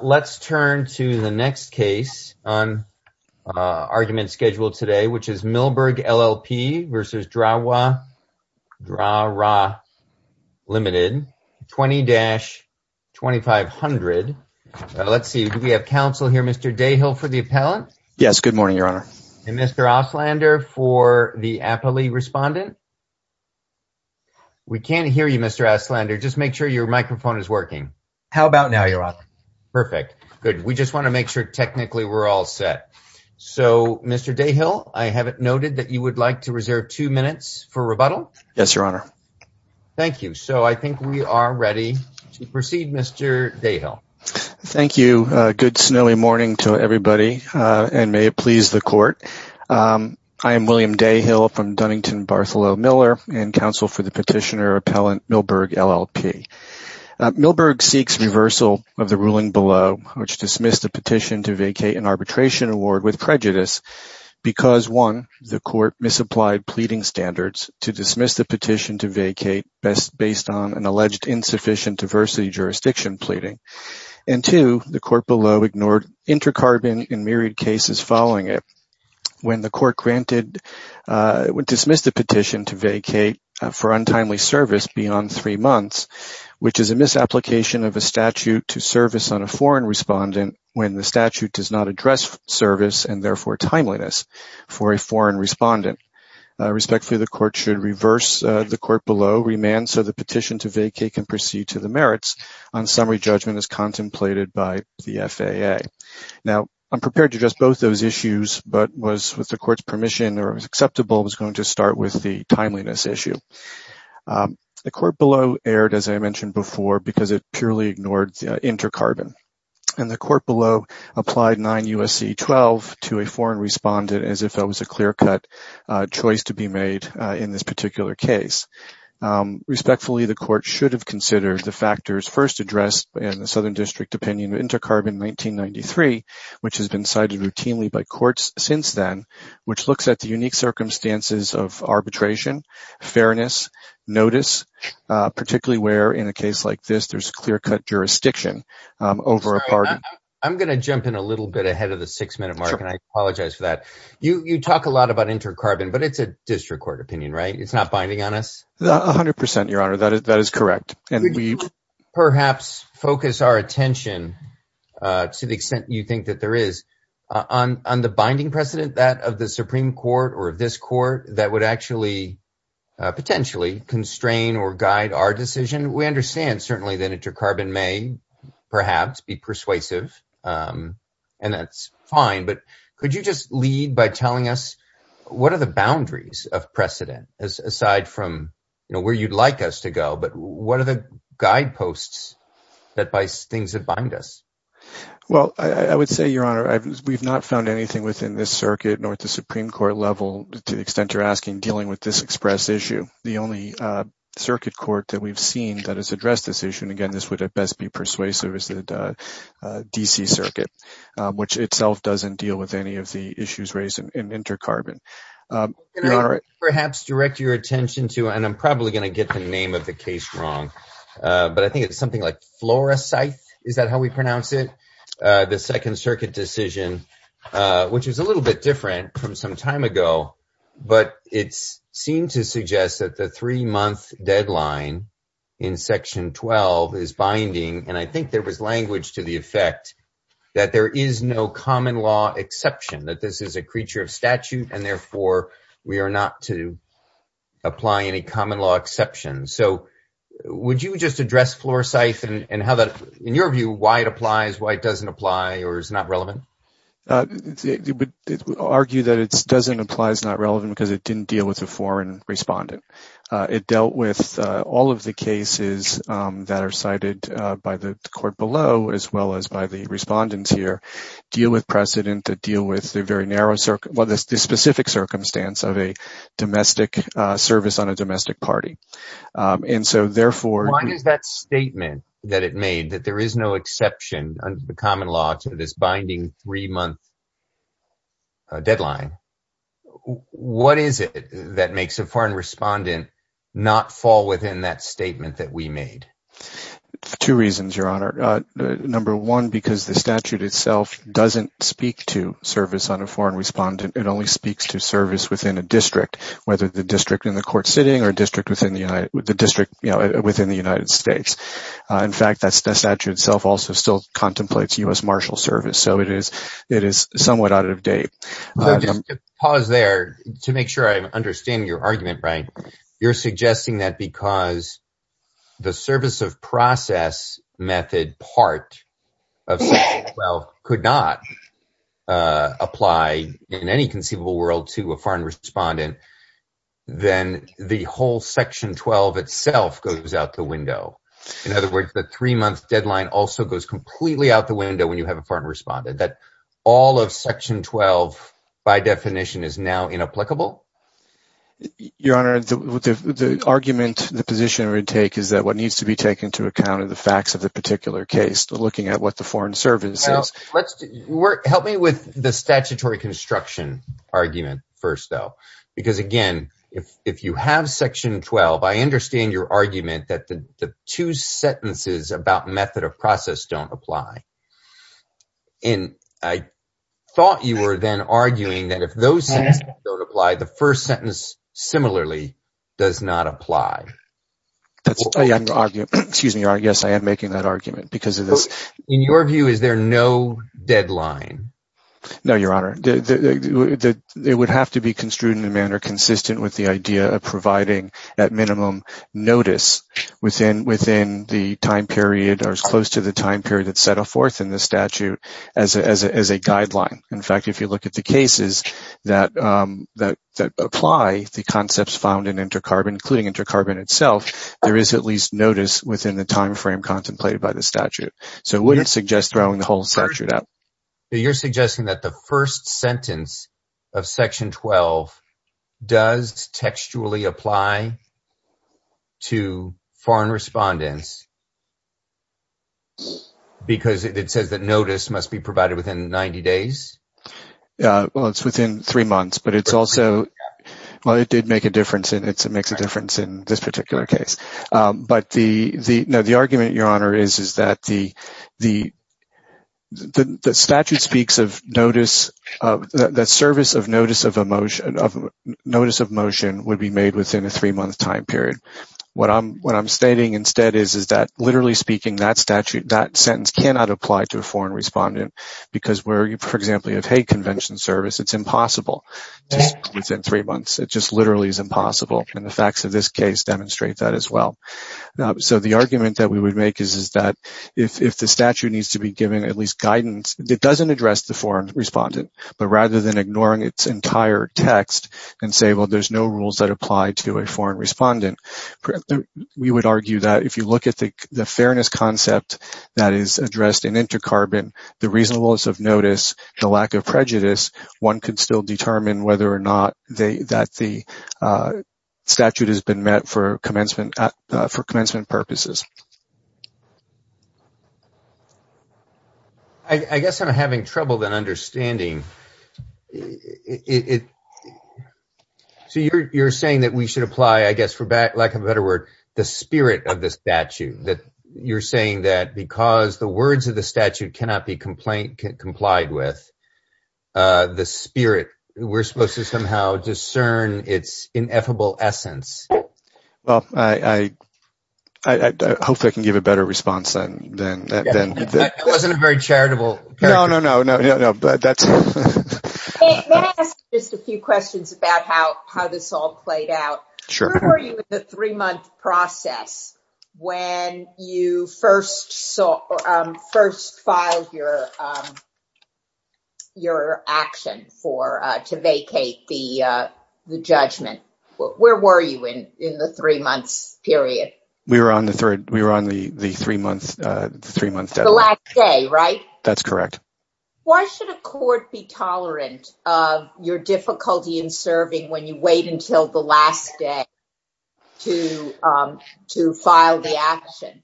Let's turn to the next case on argument schedule today, which is Millberg LLP v. Drawrah Limited, 20-2500. Let's see, we have counsel here. Mr. Dayhill for the appellant. Yes, good morning, Your Honor. And Mr. Oslander for the appellee respondent. We can't hear you, Mr. Oslander. Just make sure your microphone is working. How about now, Your Honor? Perfect. Good. We just want to make sure technically we're all set. So, Mr. Dayhill, I have it noted that you would like to reserve two minutes for rebuttal. Yes, Your Honor. Thank you. So I think we are ready to proceed, Mr. Dayhill. Thank you. Good snowy morning to everybody, and may it please the court. I am William Dayhill from Dunnington Bartholomew Miller and counsel for the petitioner appellant Millberg LLP. Millberg seeks reversal of the ruling below, which dismissed the petition to vacate an arbitration award with prejudice because, one, the court misapplied pleading standards to dismiss the petition to vacate based on an alleged insufficient diversity jurisdiction pleading, and two, the court below ignored inter-carbon and myriad cases following it. When the court dismissed the petition to vacate for untimely service beyond three months, which is a misapplication of a statute to service on a foreign respondent when the statute does not address service and therefore timeliness for a foreign respondent. Respectfully, the court should reverse the court below remand so the petition to vacate can proceed to the merits on summary judgment as contemplated by the FAA. Now, I'm prepared to address both those issues, but was, with the court's permission or was acceptable, was going to start with the timeliness issue. The court below erred, as I mentioned before, because it purely ignored inter-carbon, and the court below applied 9 U.S.C. 12 to a foreign respondent as if that was a clear-cut choice to be made in this particular case. Respectfully, the court should have considered the factors first addressed in the Southern District opinion of inter-carbon 1993, which has been cited routinely by courts since then, which looks at the unique circumstances of arbitration, fairness, notice, particularly where, in a case like this, there's clear-cut jurisdiction over a pardon. I'm going to jump in a little bit ahead of the six-minute mark, and I apologize for that. You talk a lot about inter-carbon, but it's a district court opinion, right? It's not binding on us? A hundred percent, Your Honor. That is correct. And we perhaps focus our attention to the extent you think that there is. On the binding precedent, that of the Supreme Court or of this court, that would actually potentially constrain or guide our decision, we understand certainly that inter-carbon may perhaps be persuasive, and that's fine, but could you just lead by telling us what are the boundaries of precedent, aside from where you'd like us to go, but what are the guideposts that bind us? Well, I would say, Your Honor, we've not found anything within this circuit nor at the Supreme Court level, to the extent you're asking, dealing with this express issue. The only circuit court that we've seen that has addressed this issue, and again, this would at best be persuasive, is the D.C. Circuit, which itself doesn't deal with any of the issues raised in inter-carbon. Perhaps direct your attention to, and I'm probably going to get the name of the case wrong, but I think it's something like Florescythe, is that how we pronounce it? The Second Circuit decision, which is a little bit different from some time ago, but it seemed to suggest that the three-month deadline in Section 12 is binding, and I think there was language to the effect that there is no common law exception, that this is a common law exception. So, would you just address Florescythe and how that, in your view, why it applies, why it doesn't apply, or is not relevant? I would argue that it doesn't apply, it's not relevant, because it didn't deal with a foreign respondent. It dealt with all of the cases that are cited by the court below, as well as by the respondents here, deal with precedent, that deal with the specific circumstance of a domestic service on a domestic party. Why does that statement that it made, that there is no exception under the common law to this binding three-month deadline, what is it that makes a foreign respondent not fall within that statement that we made? Two reasons, Your Honor. Number one, because the statute itself doesn't speak to service on a foreign respondent, it only speaks to service within a district, whether the district in the court sitting or district within the United States. In fact, that statute itself also still contemplates U.S. Marshal Service, so it is somewhat out of date. Pause there to make sure I understand your argument, Brian. You're suggesting that because the service of process method part of section 12 could not apply in any conceivable world to a foreign respondent, then the whole section 12 itself goes out the window. In other words, the three-month deadline also goes completely out the window when you have a foreign respondent, that all of section 12 by definition is now inapplicable? Your Honor, the argument, the position I would take is that what needs to be taken into account are the facts of the particular case, looking at what the foreign service says. Help me with the statutory construction argument first, though, because again, if you have section 12, I understand your argument that the two sentences about method of process don't apply. And I thought you were then arguing that if those sentences don't apply, the first sentence similarly does not apply. Excuse me, Your Honor. Yes, I am making that argument because of this. In your view, is there no deadline? No, Your Honor. It would have to be construed in a manner consistent with the idea of providing at minimum notice within the time period or as close to the time period that's set forth in the statute as a guideline. In fact, if you look at the cases that apply the concepts found in inter-carbon, including inter-carbon itself, there is at least notice within the time frame contemplated by the statute. So I wouldn't suggest throwing the whole statute out. You're suggesting that the first sentence of section 12 does textually apply to foreign respondents because it says that notice must be provided within 90 days? Well, it's within three months, but it's also, well, it did make a difference in this particular case. But the argument, Your Honor, is that the statute speaks of notice, that service of notice of motion would be made within a three-month time period. What I'm stating instead is that, literally speaking, that sentence cannot apply to a foreign respondent because where, for example, you have a convention service, it's impossible within three months. It just literally is impossible, and the facts of this case demonstrate that as well. So the argument that we would make is that if the statute needs to be given at least guidance, it doesn't address the foreign respondent, but rather than ignoring its entire text and say, well, there's no rules that apply to a foreign respondent, we would argue that if you look at the fairness concept that is addressed in inter-carbon, the reasonableness of notice, the lack of prejudice, one could still determine whether or not that the statute has been met for commencement purposes. I guess I'm having trouble then understanding. So you're saying that we should apply, I guess, for lack of a better word, the spirit of the statute, that you're saying that because the words of the statute cannot be complied with, the spirit, we're supposed to somehow discern its ineffable essence. Well, I hope I can give a better response then. That wasn't a very charitable... No, no, no, no, no, but that's... May I ask just a few questions about how this all played out? Sure. Where were you in the three-month process when you first filed your action to vacate the judgment? Where were you in the three months period? We were on the three-month deadline. The last day, right? That's correct. Why should a court be tolerant of your difficulty in serving when you wait until the last day? To file the action.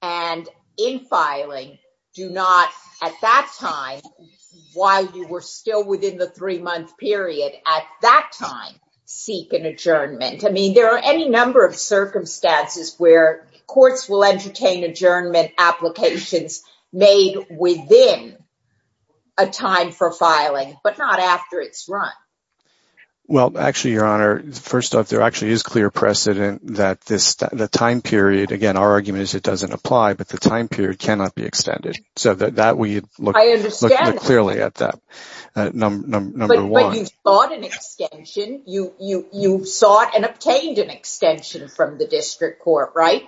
And in filing, do not, at that time, while you were still within the three-month period, at that time, seek an adjournment. I mean, there are any number of circumstances where courts will entertain adjournment applications made within a time for filing, but not after it's run. Well, actually, Your Honor, first off, there actually is clear precedent that the time period, again, our argument is it doesn't apply, but the time period cannot be extended. So that we look clearly at that, number one. But you sought an extension. You sought and obtained an extension from the district court, right?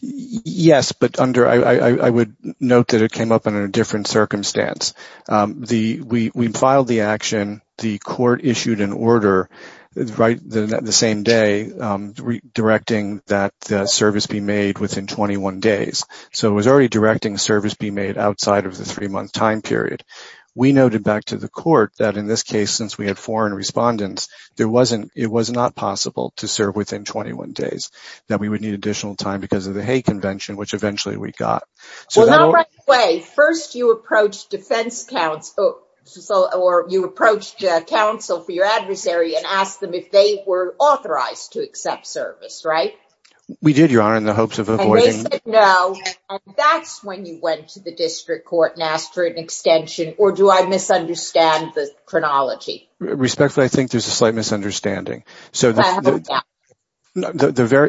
Yes, but I would note that it came up in a different circumstance. The, we filed the action, the court issued an order, right, the same day, directing that service be made within 21 days. So it was already directing service be made outside of the three-month time period. We noted back to the court that in this case, since we had foreign respondents, there wasn't, it was not possible to serve within 21 days, that we would need additional time because of the Hague Convention, which eventually we got. Well, not right away. First, you approached defense counsel, or you approached counsel for your adversary and asked them if they were authorized to accept service, right? We did, Your Honor, in the hopes of avoiding- And they said no, and that's when you went to the district court and asked for an extension, or do I misunderstand the chronology? Respectfully, I think there's a slight misunderstanding. So the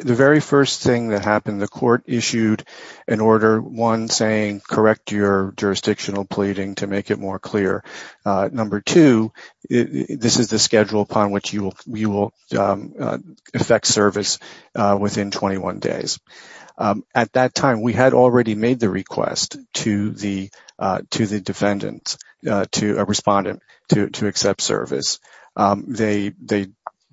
very first thing that happened, the court issued an order, one saying, correct your jurisdictional pleading to make it more clear. Number two, this is the schedule upon which you will affect service within 21 days. At that time, we had already made the request to the defendant, to a respondent, to accept service. They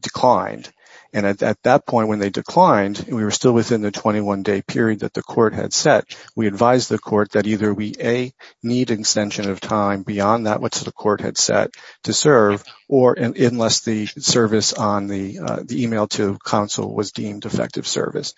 declined. And at that point, when they declined, and we were still within the 21-day period that the court had set, we advised the court that either we, A, need an extension of time beyond that which the court had set to serve, or unless the service on the email to counsel was deemed effective service.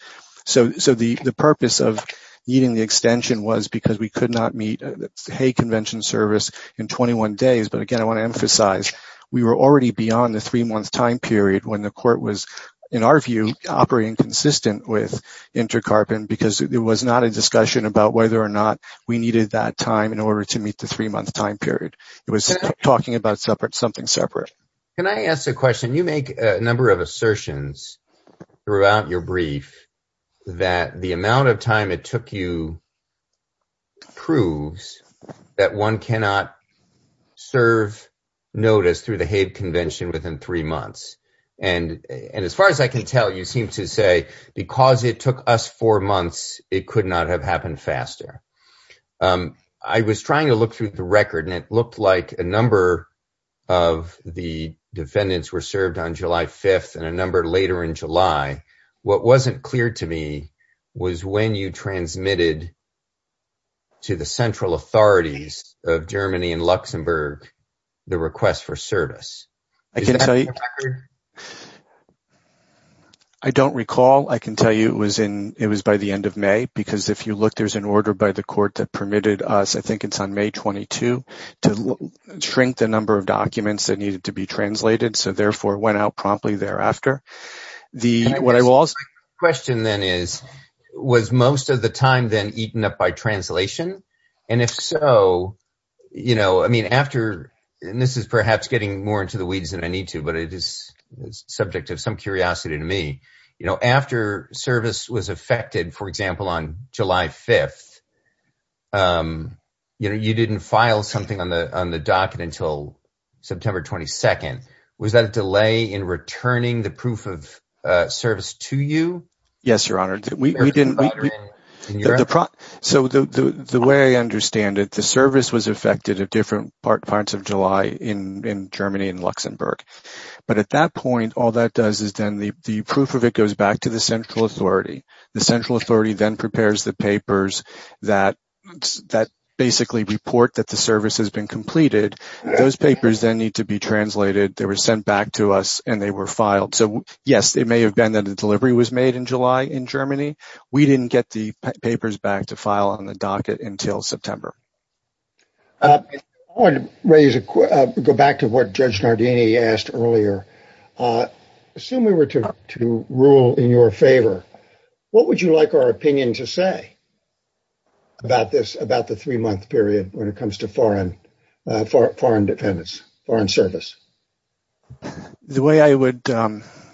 So the purpose of needing the extension was because we could not meet Hague Convention service in 21 days. But again, I want to emphasize, we were already beyond the three-month time period when the court was, in our view, operating consistent with InterCarp and because there was not a discussion about whether or not we needed that time in order to meet the three-month time period. It was talking about something separate. Can I ask a question? You make a number of assertions throughout your brief that the amount of time it took to serve Hague proves that one cannot serve notice through the Hague Convention within three months. And as far as I can tell, you seem to say because it took us four months, it could not have happened faster. I was trying to look through the record, and it looked like a number of the defendants were served on July 5th and a number later in July. What wasn't clear to me was when you transmitted to the central authorities of Germany and Luxembourg the request for service. I don't recall. I can tell you it was by the end of May, because if you look, there's an order by the court that permitted us, I think it's on May 22, to shrink the number of documents that needed to be translated. So therefore, it went out promptly thereafter. The question then is, was most of the time then eaten up by translation? And if so, you know, I mean, after, and this is perhaps getting more into the weeds than I need to, but it is subject of some curiosity to me, you know, after service was affected, for example, on July 5th, you know, you didn't file something on the on the docket until September 22nd. Was that a delay in returning the proof of service to you? Yes, Your Honor. So the way I understand it, the service was affected at different parts of July in Germany and Luxembourg. But at that point, all that does is then the proof of it goes back to the central authority. The central authority then prepares the papers that basically report that the service has been completed. Those papers then need to be translated. They were sent back to us and they were filed. So yes, it may have been that the delivery was made in July in Germany. We didn't get the papers back to file on the docket until September. I want to go back to what Judge Nardini asked earlier. Assume we were to rule in your favor. What would you like our opinion to say about this, about the three month period when it foreign dependence, foreign service? The way I would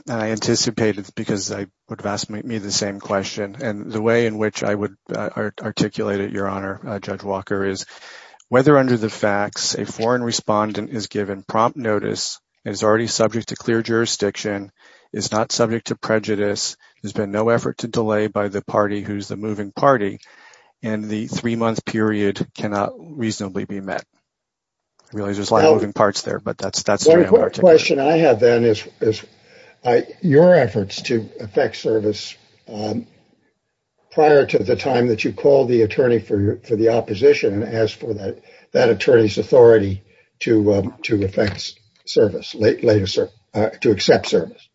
anticipate it, because I would have asked me the same question and the way in which I would articulate it, Your Honor, Judge Walker, is whether under the facts, a foreign respondent is given prompt notice, is already subject to clear jurisdiction, is not subject to prejudice. There's been no effort to delay by the party who's the moving party and the three month period cannot reasonably be met. Really, there's a lot of moving parts there, but that's the question I have then is your efforts to affect service prior to the time that you called the attorney for the opposition and asked for that attorney's authority to affect service, to accept service.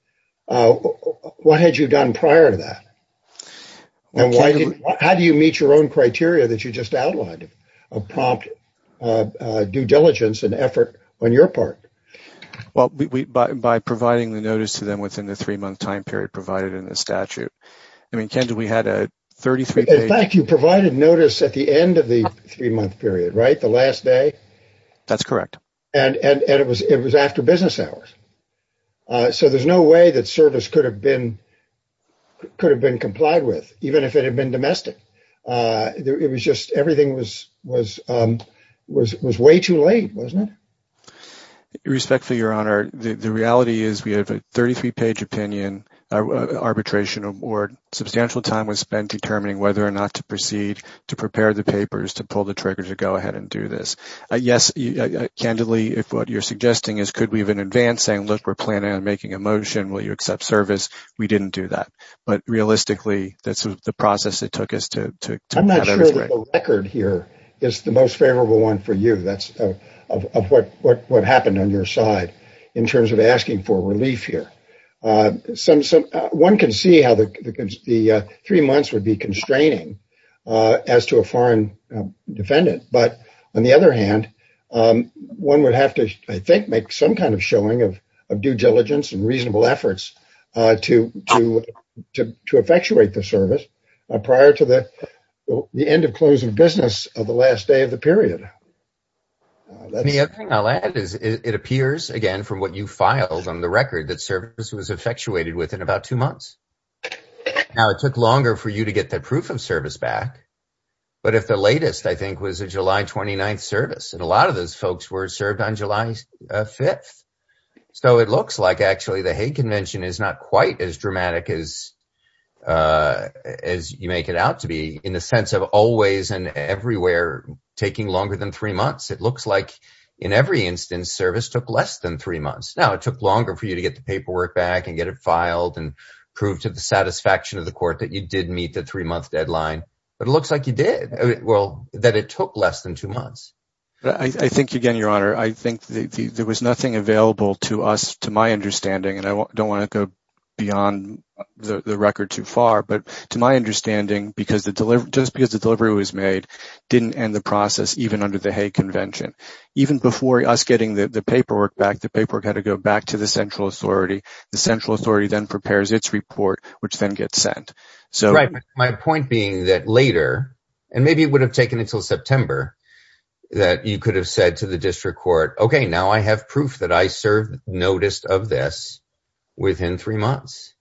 What had you done prior to that? And how do you meet your own criteria that you just outlined of prompt due diligence and effort on your part? Well, by providing the notice to them within the three month time period provided in the statute. I mean, Kendall, we had a 33 page- In fact, you provided notice at the end of the three month period, right? The last day? That's correct. It was after business hours. So there's no way that service could have been complied with, even if it had been domestic. It was just everything was way too late, wasn't it? Respectfully, Your Honor, the reality is we have a 33 page opinion arbitration or substantial time was spent determining whether or not to proceed to prepare the papers to pull the trigger to go ahead and do this. Yes, candidly, if what you're suggesting is could we have an advance saying, look, we're planning on making a motion, will you accept service? We didn't do that. But realistically, that's the process it took us to- I'm not sure the record here is the most favorable one for you. That's of what happened on your side in terms of asking for relief here. One can see how the three months would be constraining as to a foreign defendant. But on the other hand, one would have to, I think, make some kind of showing of due diligence and reasonable efforts to effectuate the service prior to the end of closing business of the last day of the period. The other thing I'll add is it appears, again, from what you filed on the record, that service was effectuated within about two months. Now, it took longer for you to get that proof of service back. But if the latest, I think, was a July 29th service, and a lot of those folks were served on July 5th. So it looks like actually the Hague Convention is not quite as dramatic as you make it out to be in the sense of always and everywhere taking longer than three months. It looks like in every instance, service took less than three months. Now, it took longer for you to get the paperwork back and get it filed and prove to the satisfaction of the court that you did meet the three-month deadline. But it looks like you did. Well, that it took less than two months. I think, again, Your Honor, I think there was nothing available to us, to my understanding, and I don't want to go beyond the record too far. But to my understanding, just because the delivery was made, didn't end the process even under the Hague Convention. Even before us getting the paperwork back, the paperwork had to go back to the central authority. The central authority then prepares its report, which then gets sent. My point being that later, and maybe it would have taken until September, that you could have said to the district court, okay, now I have proof that I served notice of this within three months.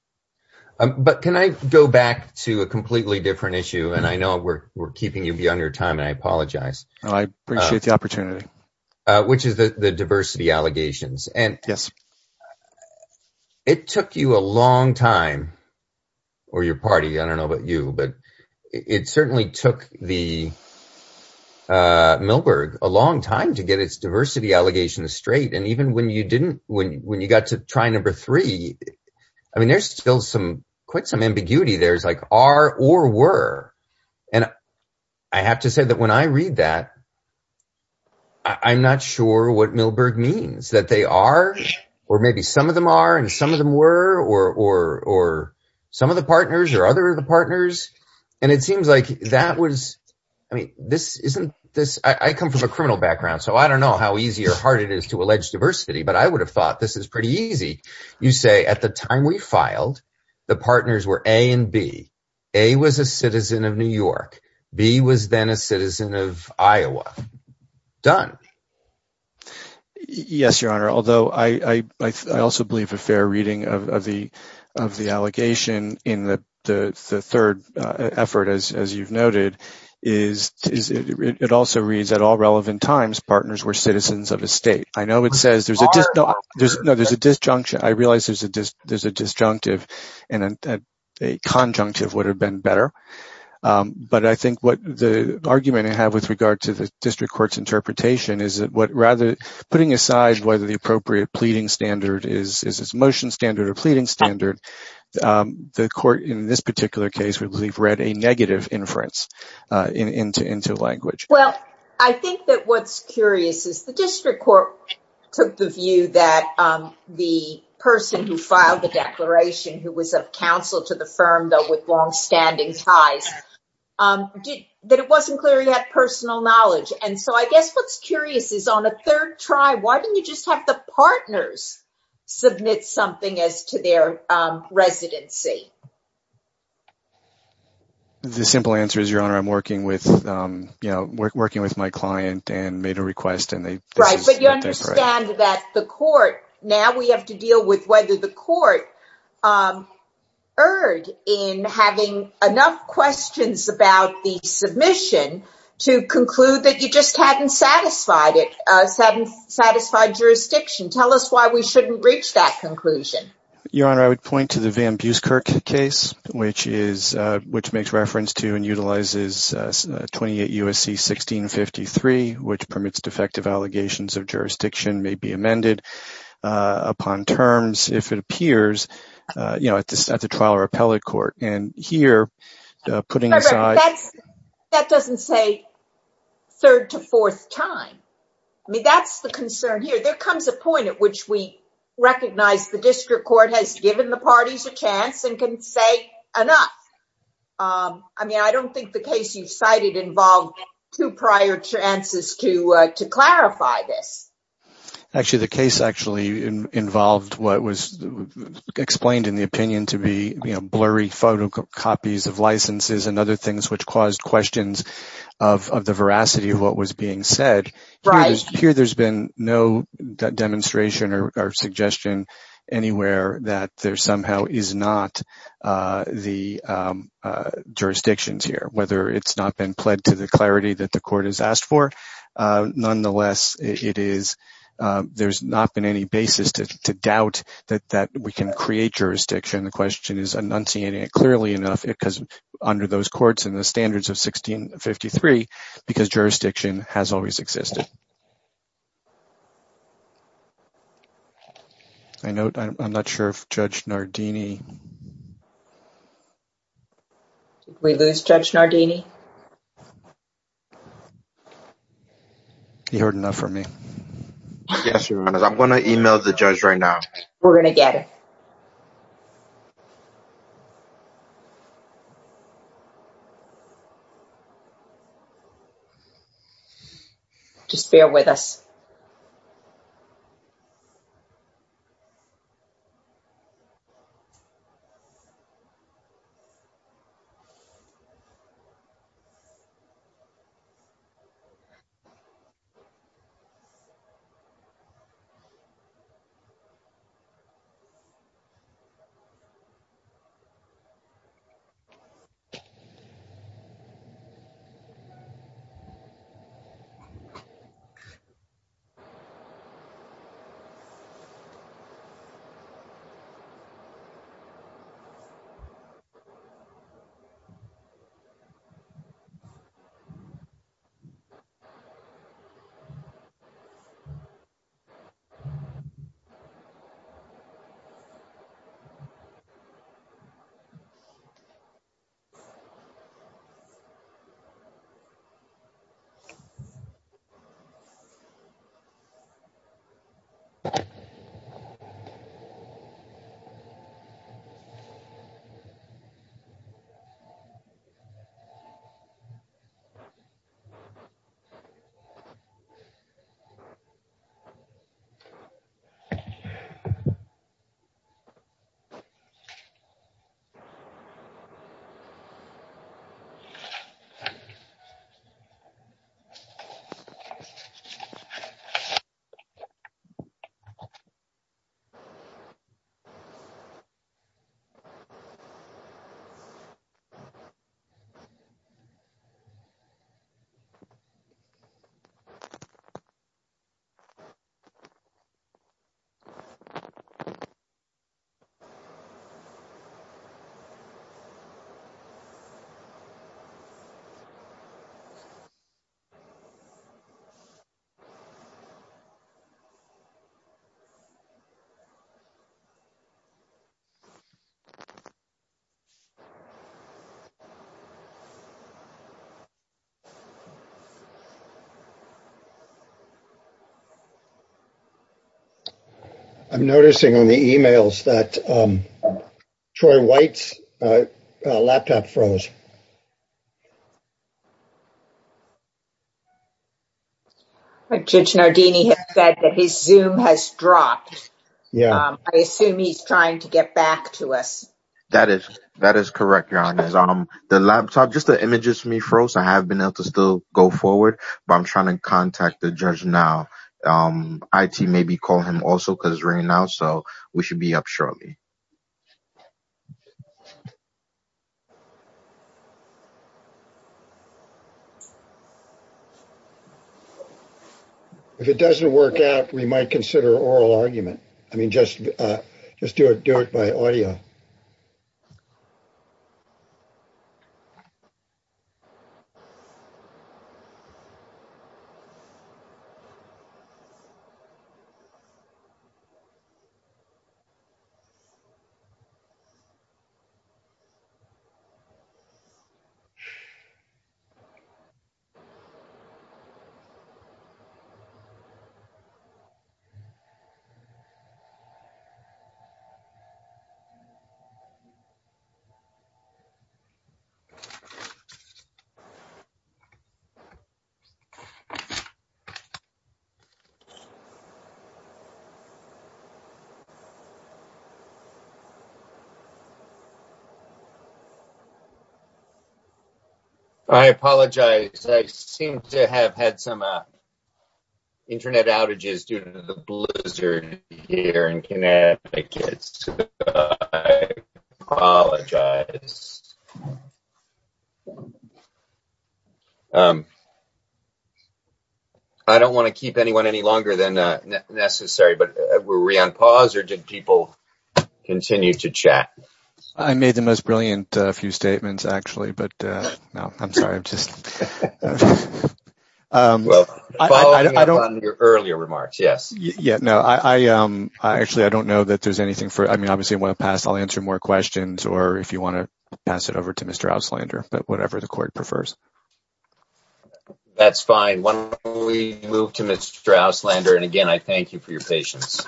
But can I go back to a completely different issue? And I know we're keeping you beyond your time, and I apologize. I appreciate the opportunity. Which is the diversity allegations. Yes. And it took you a long time, or your party, I don't know about you, but it certainly took the Milberg a long time to get its diversity allegations straight. And even when you didn't, when you got to try number three, I mean, there's still some, quite some ambiguity there. It's like, are or were. And I have to say that when I read that, I'm not sure what Milberg means. That they are, or maybe some of them are and some of them were, or some of the partners or other of the partners. And it seems like that was, I mean, this isn't this, I come from a criminal background, so I don't know how easy or hard it is to allege diversity, but I would have thought this is pretty easy. You say, at the time we filed, the partners were A and B. A was a citizen of New York. B was then a citizen of Iowa. Done. Yes, Your Honor. Although I also believe a fair reading of the of the allegation in the third effort, as you've noted, is it also reads that all relevant times partners were citizens of a state. I know it says there's a disjunction. I realize there's a disjunctive and a conjunctive would have been better. But I think what the argument I have with regard to the district court's interpretation is that what rather putting aside whether the appropriate pleading standard is this motion standard or pleading standard, the court in this particular case, we've read a negative inference into language. Well, I think that what's curious is the district court took the view that the person who filed the declaration, who was of counsel to the firm, though, with long standing ties, that it wasn't clear he had personal knowledge. And so I guess what's curious is on a third try, why didn't you just have the partners submit something as to their residency? The simple answer is, Your Honor, I'm working with, you know, working with my client and made a request and they right. But you understand that the court now we have to deal with whether the court um, erred in having enough questions about the submission to conclude that you just hadn't satisfied it, hadn't satisfied jurisdiction. Tell us why we shouldn't reach that conclusion. Your Honor, I would point to the Van Buskirk case, which is, which makes reference to and utilizes 28 U.S.C. 1653, which permits defective allegations of jurisdiction may be amended upon terms, if it appears, you know, at the trial or appellate court. And here, putting aside. That doesn't say third to fourth time. I mean, that's the concern here. There comes a point at which we recognize the district court has given the parties a chance and can say enough. I mean, I don't think the case you cited involved two prior chances to clarify this. Actually, the case actually involved what was explained in the opinion to be blurry photocopies of licenses and other things which caused questions of the veracity of what was being said. Right. Here, there's been no demonstration or suggestion anywhere that there somehow is not the jurisdictions here, whether it's not been pled to the clarity that the court has asked for. Nonetheless, it is there's not been any basis to doubt that that we can create jurisdiction. The question is enunciating it clearly enough because under those courts and the standards of 1653, because jurisdiction has always existed. I know I'm not sure if Judge Nardini. Did we lose Judge Nardini? You heard enough for me. Yes, I'm going to email the judge right now. We're going to get it. Just bear with us. I'm noticing on the emails that Troy White's laptop froze. Judge Nardini has said that his zoom has dropped. Yeah, I assume he's trying to get back to us. That is, that is correct. Your Honor, the laptop, just the images for me froze. I have been able to still go forward, but I'm trying to get back to you. Contact the judge now. IT maybe call him also because right now so we should be up shortly. If it doesn't work out, we might consider oral argument. I mean, just just do it, do it by audio. I apologize. I seem to have had some internet outages due to the blizzard here in Connecticut. I apologize. I don't want to keep anyone any longer than necessary. But were we on pause or did people continue to chat? I made the most brilliant few statements, actually. But no, I'm sorry. I'm just following up on your earlier remarks. Yes. Yeah, no, I actually I don't know that there's anything for I mean, obviously I want to pass. I'll answer more questions or if you want to pass it over to Mr. Ouslander, but whatever the court prefers. That's fine. We move to Mr. Ouslander. And again, I thank you for your patience.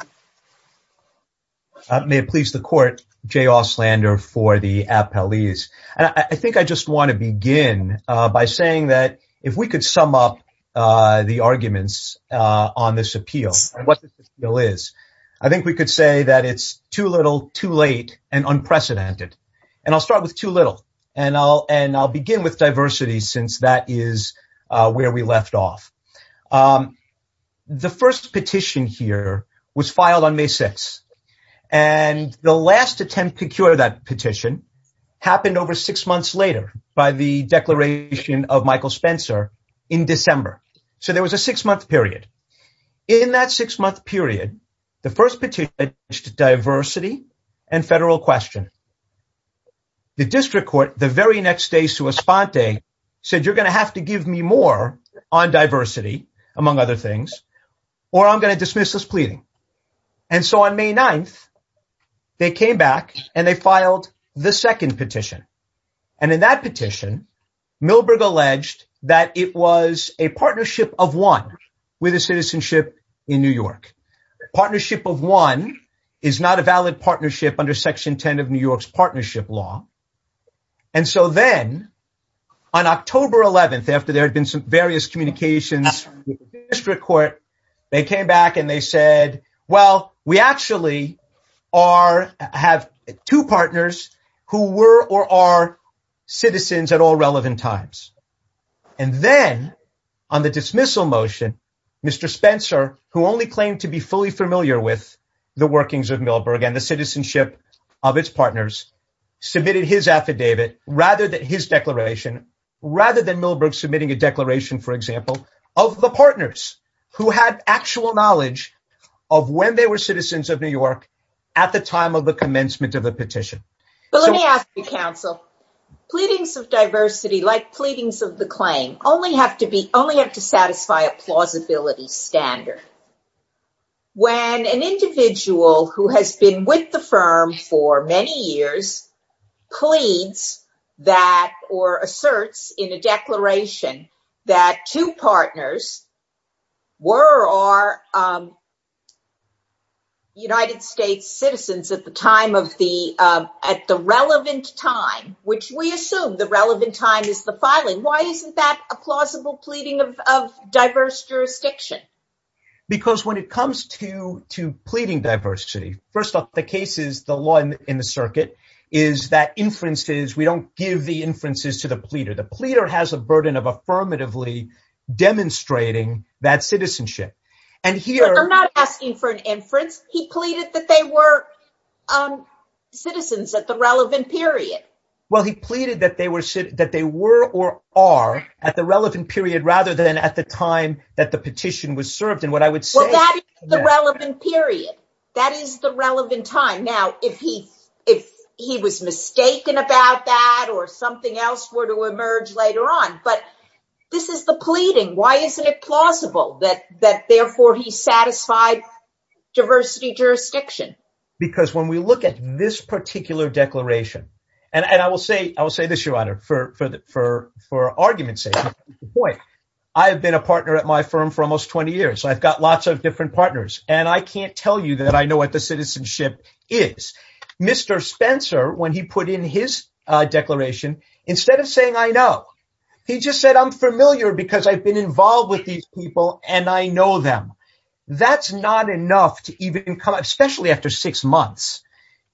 May it please the court, Jay Ouslander for the appellees. And I think I just want to begin by saying that if we could sum up the arguments on this appeal, what the bill is, I think we could say that it's too little too late and unprecedented. And I'll start with too little. And I'll and I'll begin with diversity since that is where we left off. The first petition here was filed on May 6th. And the last attempt to cure that petition happened over six months later by the declaration of Michael Spencer in December. So there was a six month period. In that six month period, the first petition to diversity and federal question. The district court the very next day to a spot day said, you're going to have to give me more on diversity, among other things, or I'm going to dismiss this pleading. And so on May 9th, they came back and they filed the second petition. And in that petition, Milberg alleged that it was a partnership of one with a citizenship in New York. Partnership of one is not a valid partnership under Section 10 of New York's partnership law. And so then on October 11th, after there had been some various communications district court, they came back and they said, well, we actually are have two partners who were or are citizens at all relevant times. And then on the dismissal motion, Mr. Spencer, who only claimed to be fully familiar with the workings of Milberg and the citizenship of its partners, submitted his affidavit rather than his declaration, rather than Milberg submitting a declaration, for example, of the partners who had actual knowledge of when they were citizens of New York at the time of the commencement of the petition. But let me ask you, counsel, pleadings of diversity, like pleadings of the claim, only have to be only have to satisfy a plausibility standard. When an individual who has been with the firm for many years pleads that or asserts in a at the relevant time, which we assume the relevant time is the filing. Why isn't that a plausible pleading of diverse jurisdiction? Because when it comes to to pleading diversity, first off, the case is the law in the circuit is that inferences we don't give the inferences to the pleader. The pleader has a burden of affirmatively demonstrating that citizenship. And here I'm not asking for an inference. He pleaded that they were citizens at the relevant period. Well, he pleaded that they were that they were or are at the relevant period rather than at the time that the petition was served. And what I would say that the relevant period that is the relevant time. Now, if he if he was mistaken about that or something else were to emerge later on. But this is the pleading. Why isn't it plausible that that therefore he satisfied diversity jurisdiction? Because when we look at this particular declaration, and I will say I will say this, Your Honor, for for for for argument's sake, boy, I've been a partner at my firm for almost 20 years. I've got lots of different partners. And I can't tell you that I know what the citizenship is. Mr. Spencer, when he put in his declaration, instead of saying, I know he just said I'm involved with these people, and I know them. That's not enough to even come up, especially after six months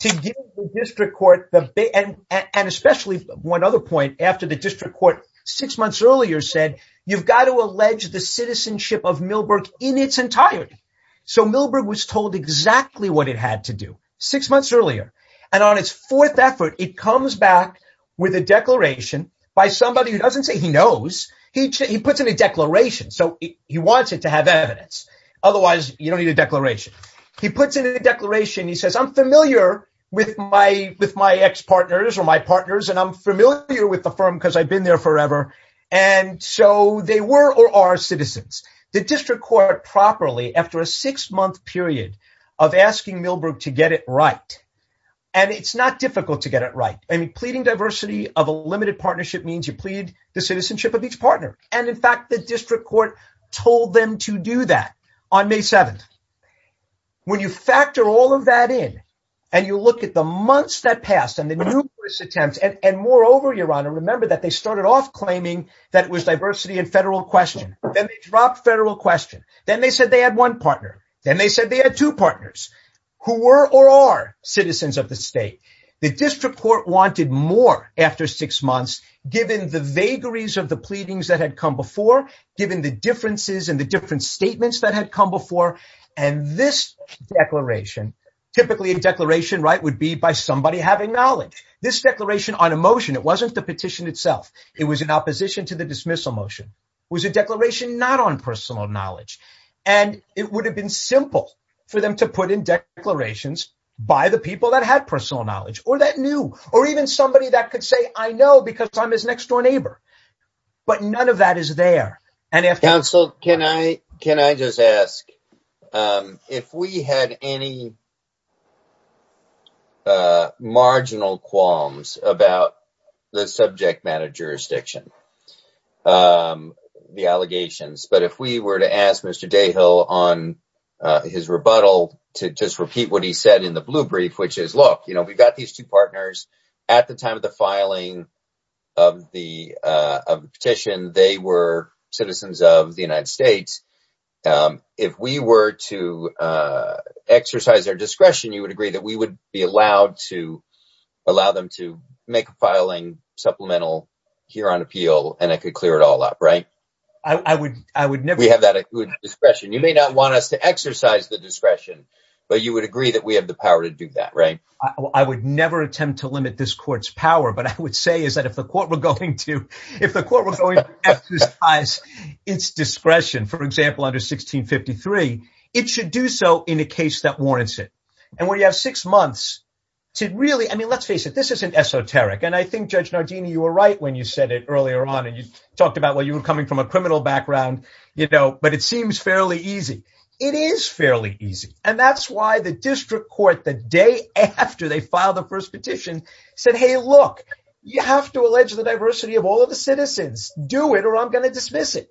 to give the district court the and and especially one other point after the district court six months earlier said, you've got to allege the citizenship of Milberg in its entirety. So Milberg was told exactly what it had to do six months earlier. And on its fourth effort, it comes back with a declaration by somebody who doesn't say he knows. He puts in a declaration. So he wants it to have evidence. Otherwise, you don't need a declaration. He puts in a declaration. He says, I'm familiar with my with my ex partners or my partners. And I'm familiar with the firm because I've been there forever. And so they were or are citizens, the district court properly after a six month period of asking Milberg to get it right. And it's not difficult to get it right. I mean, pleading diversity of a limited partnership means you plead the citizenship of each partner. And in fact, the district court told them to do that on May 7th. When you factor all of that in and you look at the months that passed and the numerous attempts and moreover, your honor, remember that they started off claiming that it was diversity and federal question. Then they dropped federal question. Then they said they had one partner. Then they said they had two partners who were or are citizens of the state. The district court wanted more after six months, given the vagaries of the pleadings that had come before, given the differences and the different statements that had come before. And this declaration, typically a declaration, right, would be by somebody having knowledge. This declaration on a motion, it wasn't the petition itself. It was in opposition to the dismissal motion, was a declaration not on personal knowledge. And it would have been simple for them to put in declarations by the people that had personal knowledge or that knew or even somebody that could say, I know because I'm his next door neighbor. But none of that is there. And if counsel, can I can I just ask if we had any. Marginal qualms about the subject matter jurisdiction, the allegations, but if we were to ask Mr. Dayhill on his rebuttal to just repeat what he said in the blue brief, which is, look, you know, we've got these two partners at the time of the filing of the petition. They were citizens of the United States. If we were to exercise our discretion, you would agree that we would be allowed to allow them to make a filing supplemental here on appeal and I could clear it all up. I would I would never have that discretion. You may not want us to exercise the discretion, but you would agree that we have the power to do that. Right. I would never attempt to limit this court's power. But I would say is that if the court were going to if the court was going to exercise its discretion, for example, under 1653, it should do so in a case that warrants it. And when you have six months to really I mean, let's face it, this isn't esoteric. And I think Judge Nardini, you were right when you said it earlier on and you talked about, well, coming from a criminal background, you know, but it seems fairly easy. It is fairly easy. And that's why the district court, the day after they filed the first petition, said, hey, look, you have to allege the diversity of all of the citizens. Do it or I'm going to dismiss it.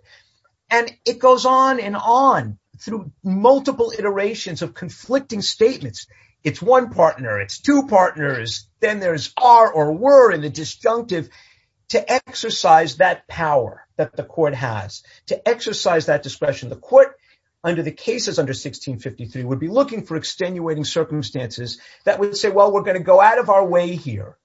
And it goes on and on through multiple iterations of conflicting statements. It's one partner. It's two partners. Then there's are or were in the disjunctive to exercise that power that the court has to exercise that discretion. The court under the cases under 1653 would be looking for extenuating circumstances that would say, well, we're going to go out of our way here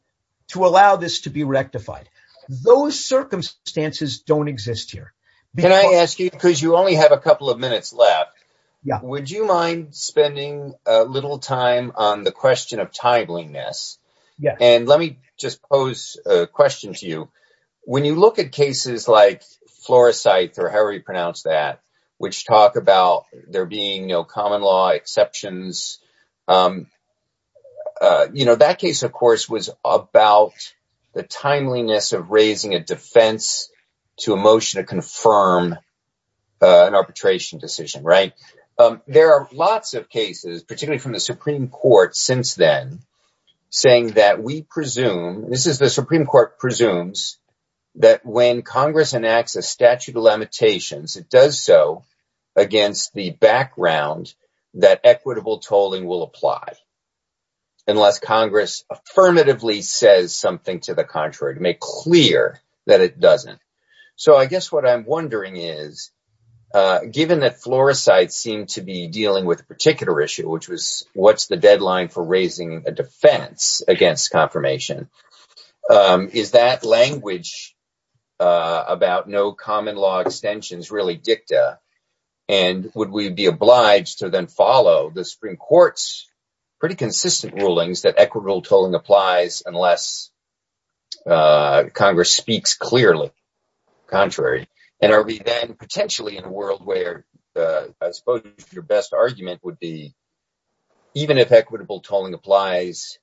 to allow this to be rectified. Those circumstances don't exist here. Can I ask you, because you only have a couple of minutes left. Would you mind spending a little time on the question of timeliness? And let me just pose a question to you. When you look at cases like Flores sites or how we pronounce that, which talk about there being no common law exceptions, you know, that case, of course, was about the timeliness of raising a defense to a motion to confirm an arbitration decision. There are lots of cases, particularly from the Supreme Court since then, saying that we presume this is the Supreme Court presumes that when Congress enacts a statute of limitations, it does so against the background that equitable tolling will apply. Unless Congress affirmatively says something to the contrary to make clear that it doesn't. So I guess what I'm wondering is, given that Flores sites seem to be dealing with a particular issue, which was what's the deadline for raising a defense against confirmation? Is that language about no common law extensions really dicta? And would we be obliged to then follow the Supreme Court's pretty consistent rulings that equitable tolling applies unless Congress speaks clearly? Contrary. And are we then potentially in a world where I suppose your best argument would be even if equitable tolling applies,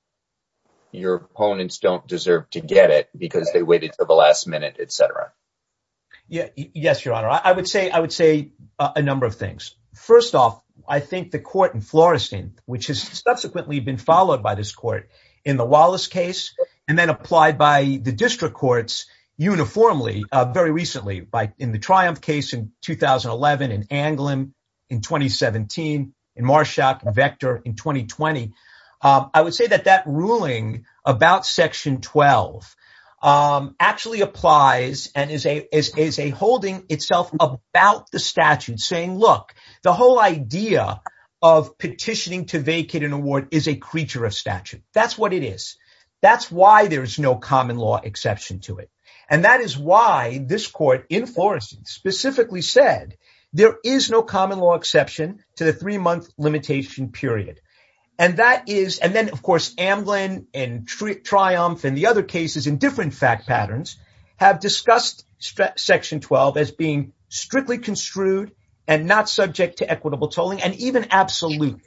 your opponents don't deserve to get it because they waited for the last minute, etc. Yeah. Yes, Your Honor. I would say I would say a number of things. First off, I think the court in Florestan, which has subsequently been followed by this case, and then applied by the district courts uniformly very recently by in the Triumph case in 2011 in Anglin in 2017, in Marshak and Vector in 2020. I would say that that ruling about section 12 actually applies and is a holding itself about the statute saying, look, the whole idea of petitioning to vacate an award is a creature of statute. That's what it is. That's why there is no common law exception to it. And that is why this court in Florestan specifically said there is no common law exception to the three month limitation period. And that is and then, of course, Anglin and Triumph and the other cases in different fact patterns have discussed section 12 as being strictly construed and not subject to equitable tolling and even absolute.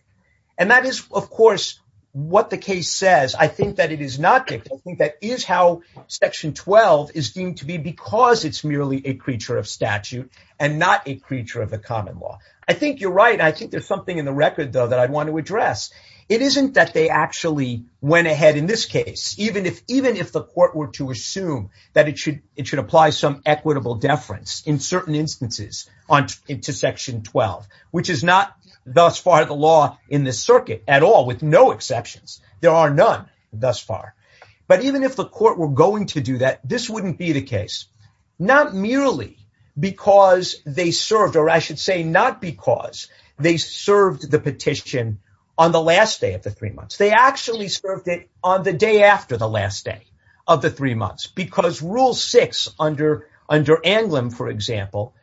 And that is, of course, what the case says. I think that it is not. I think that is how section 12 is deemed to be because it's merely a creature of statute and not a creature of the common law. I think you're right. I think there's something in the record, though, that I want to address. It isn't that they actually went ahead in this case, even if even if the court were to assume that it should it should apply some equitable deference in certain instances on into section 12, which is not thus far the law in the circuit at all, with no exceptions. There are none thus far. But even if the court were going to do that, this wouldn't be the case, not merely because they served or I should say not because they served the petition on the last day of the three months. They actually served it on the day after the last day of the three months, because rule six under under Anglin, for example,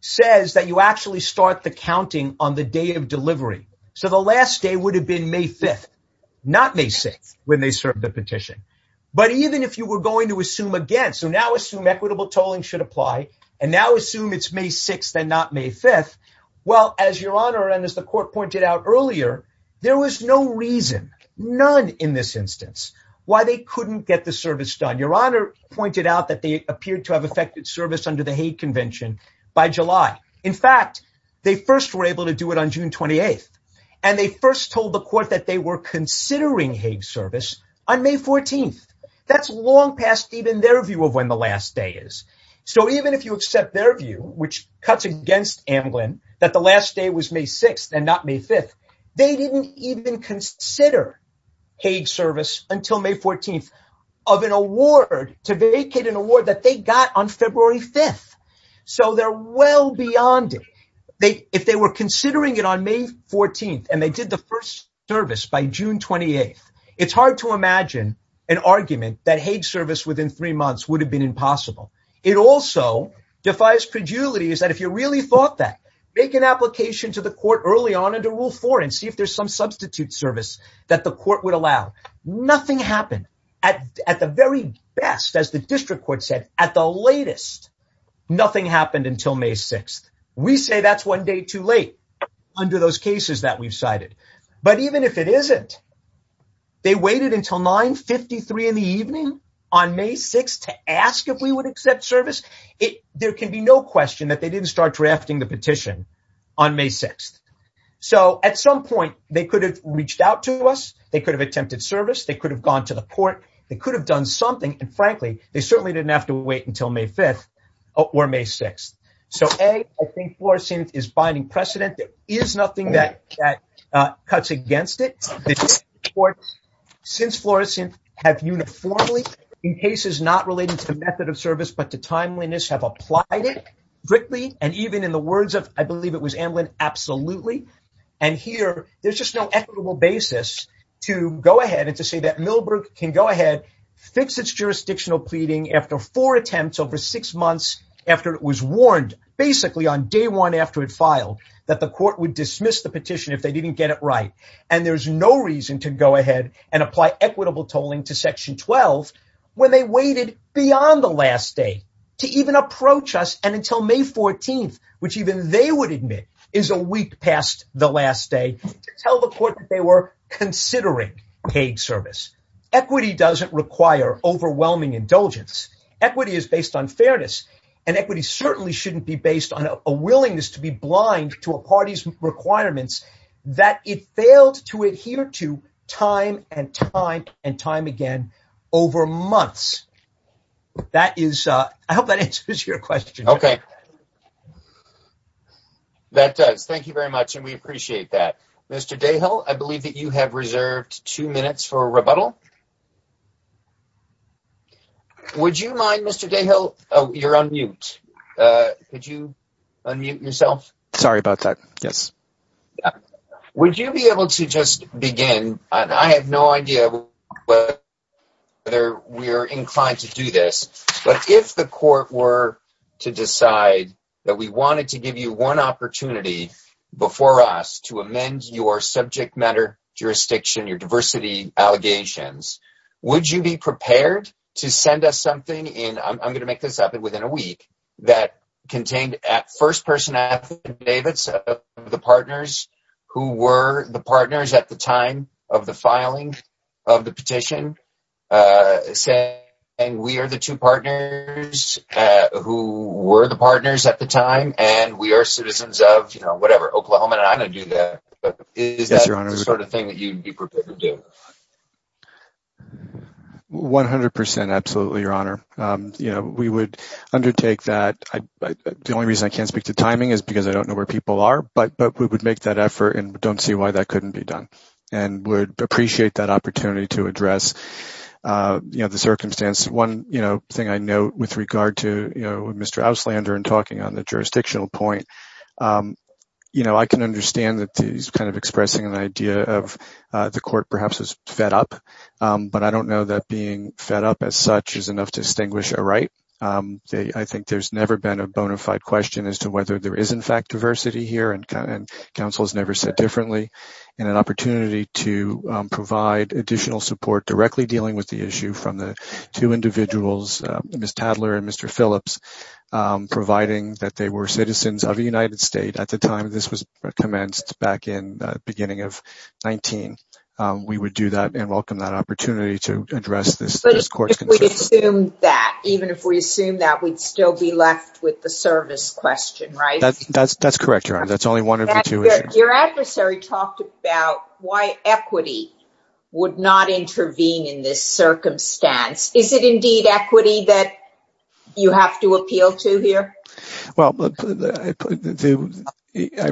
says that you actually start the counting on the day of delivery. So the last day would have been May 5th, not May 6th when they served the petition. But even if you were going to assume again, so now assume equitable tolling should apply and now assume it's May 6th and not May 5th. Well, as your honor and as the court pointed out earlier, there was no reason none in this instance why they couldn't get the service done. Your honor pointed out that they appeared to have affected service under the Hague Convention by July. In fact, they first were able to do it on June 28th and they first told the court that they were considering Hague service on May 14th. That's long past even their view of when the last day is. So even if you accept their view, which cuts against Anglin, that the last day was May 6th and not May 5th. They didn't even consider Hague service until May 14th of an award to vacate an award that they got on February 5th. So they're well beyond it. If they were considering it on May 14th and they did the first service by June 28th, it's hard to imagine an argument that Hague service within three months would have been impossible. It also defies credulity is that if you really thought that make an application to the court early on under rule four and see if there's some substitute service that the court would allow, nothing happened at the very best. As the district court said at the latest, nothing happened until May 6th. We say that's one day too late under those cases that we've cited. But even if it isn't, they waited until 953 in the evening on May 6 to ask if we would accept service. There can be no question that they didn't start drafting the petition on May 6th. So at some point, they could have reached out to us. They could have attempted service. They could have gone to the court. They could have done something. And frankly, they certainly didn't have to wait until May 5th or May 6th. So, A, I think Florissant is binding precedent. There is nothing that cuts against it. Since Florissant have uniformly in cases not related to the method of service, but to timeliness have applied it, and even in the words of, I believe it was Amlin, absolutely. And here, there's just no equitable basis to go ahead and to say that Millbrook can go ahead, fix its jurisdictional pleading after four attempts over six months after it was warned, basically on day one after it filed, that the court would dismiss the petition if they didn't get it right. And there's no reason to go ahead and apply equitable tolling to section 12 when they waited beyond the last day to even approach us. And until May 14th, which even they would admit is a week past the last day to tell the court that they were considering paid service. Equity doesn't require overwhelming indulgence. Equity is based on fairness. And equity certainly shouldn't be based on a willingness to be blind to a party's requirements that it failed to adhere to time and time and time again over months. That is, I hope that answers your question. Okay. That does. Thank you very much. And we appreciate that. Mr. Dayhill, I believe that you have reserved two minutes for a rebuttal. Would you mind, Mr. Dayhill, you're on mute. Could you unmute yourself? Sorry about that. Yes. Would you be able to just begin, and I have no idea whether we're inclined to do this, but if the court were to decide that we wanted to give you one opportunity before us to amend your subject matter jurisdiction, your diversity allegations, would you be prepared to send us something, and I'm going to make this happen within a week, that contained first-person affidavits of the partners who were the partners at the time of the filing of the petition, saying we are the two partners who were the partners at the time, and we are citizens of, you know, whatever, Oklahoma, and I'm going to do that. But is that the sort of thing that you'd be prepared to do? 100 percent, absolutely, Your Honor. You know, we would undertake that. The only reason I can't speak to timing is because I don't know where people are, but we would make that effort and don't see why that couldn't be done, and would appreciate that opportunity to address, you know, the circumstance. One, you know, thing I know with regard to, you know, Mr. Auslander and talking on the jurisdictional point, you know, I can understand that he's kind of expressing an idea of the court perhaps is fed up, but I don't know that being fed up as such is enough to distinguish a right. I think there's never been a bona fide question as to whether there is, in fact, diversity here, and counsel has never said differently, and an opportunity to provide additional support directly dealing with the issue from the two individuals, Ms. Tadler and Mr. Phillips, providing that they were citizens of the United States at the time this was commenced back in beginning of 19. We would do that and welcome that opportunity to address this court's concerns. Even if we assume that, we'd still be left with the service question, right? That's correct, Your Honor. That's only one of the two. Your adversary talked about why equity would not intervene in this circumstance. Is it indeed equity that you have to appeal to here? Well, it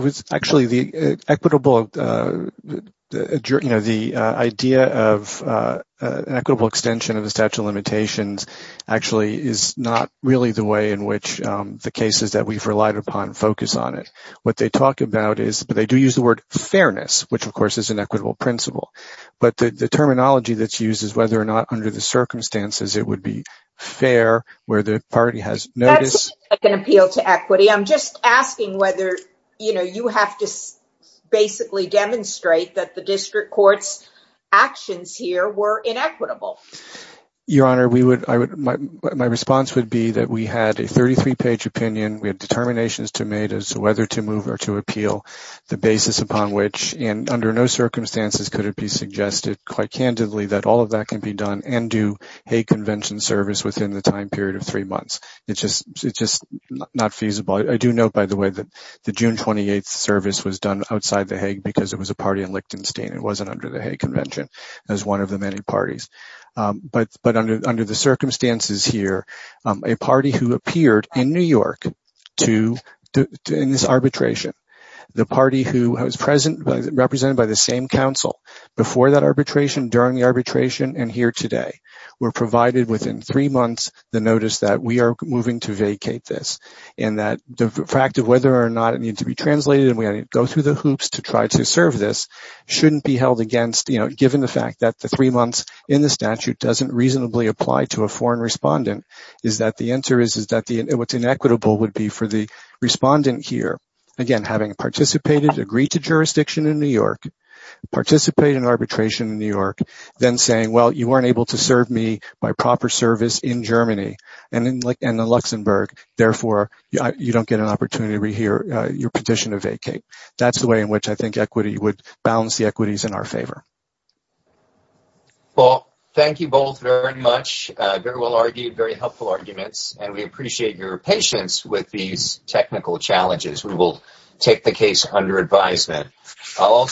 was actually the equitable, you know, the idea of an equitable extension of the statute of limitations actually is not really the way in which the cases that we've relied upon focus on it. What they talk about is, but they do use the word fairness, which, of course, is an equitable principle, but the terminology that's used is whether or not under the circumstances, it would be fair where the party has notice. That's an appeal to equity. I'm just asking whether, you know, you have to basically demonstrate that the district court's actions here were inequitable. Your Honor, my response would be that we had a 33-page opinion. We had determinations to make as to whether to move or to appeal, the basis upon which, and under no circumstances could it be suggested, quite candidly, that all of that can be done and do Hague Convention service within the time period of three months. It's just not feasible. I do note, by the way, that the June 28th service was done outside the Hague because it was a party in Lichtenstein. It wasn't under the Hague Convention as one of the many parties. But under the circumstances here, a party who appeared in New York in this arbitration, the party who was represented by the same council before that arbitration, during the arbitration, and here today, were provided within three months the notice that we are moving to vacate this, and that the fact of whether or not it needed to be translated and we had to go through the hoops to try to serve this shouldn't be held against, you know, the statute doesn't reasonably apply to a foreign respondent is that the answer is that what's inequitable would be for the respondent here, again, having participated, agreed to jurisdiction in New York, participate in arbitration in New York, then saying, well, you weren't able to serve me by proper service in Germany and in Luxembourg. Therefore, you don't get an opportunity to rehear your petition to vacate. That's the way in which I think equity would balance the equities in our favor. Well, thank you both very much. Very well argued, very helpful arguments, and we appreciate your patience with these technical challenges. We will take the case under advisement. I'll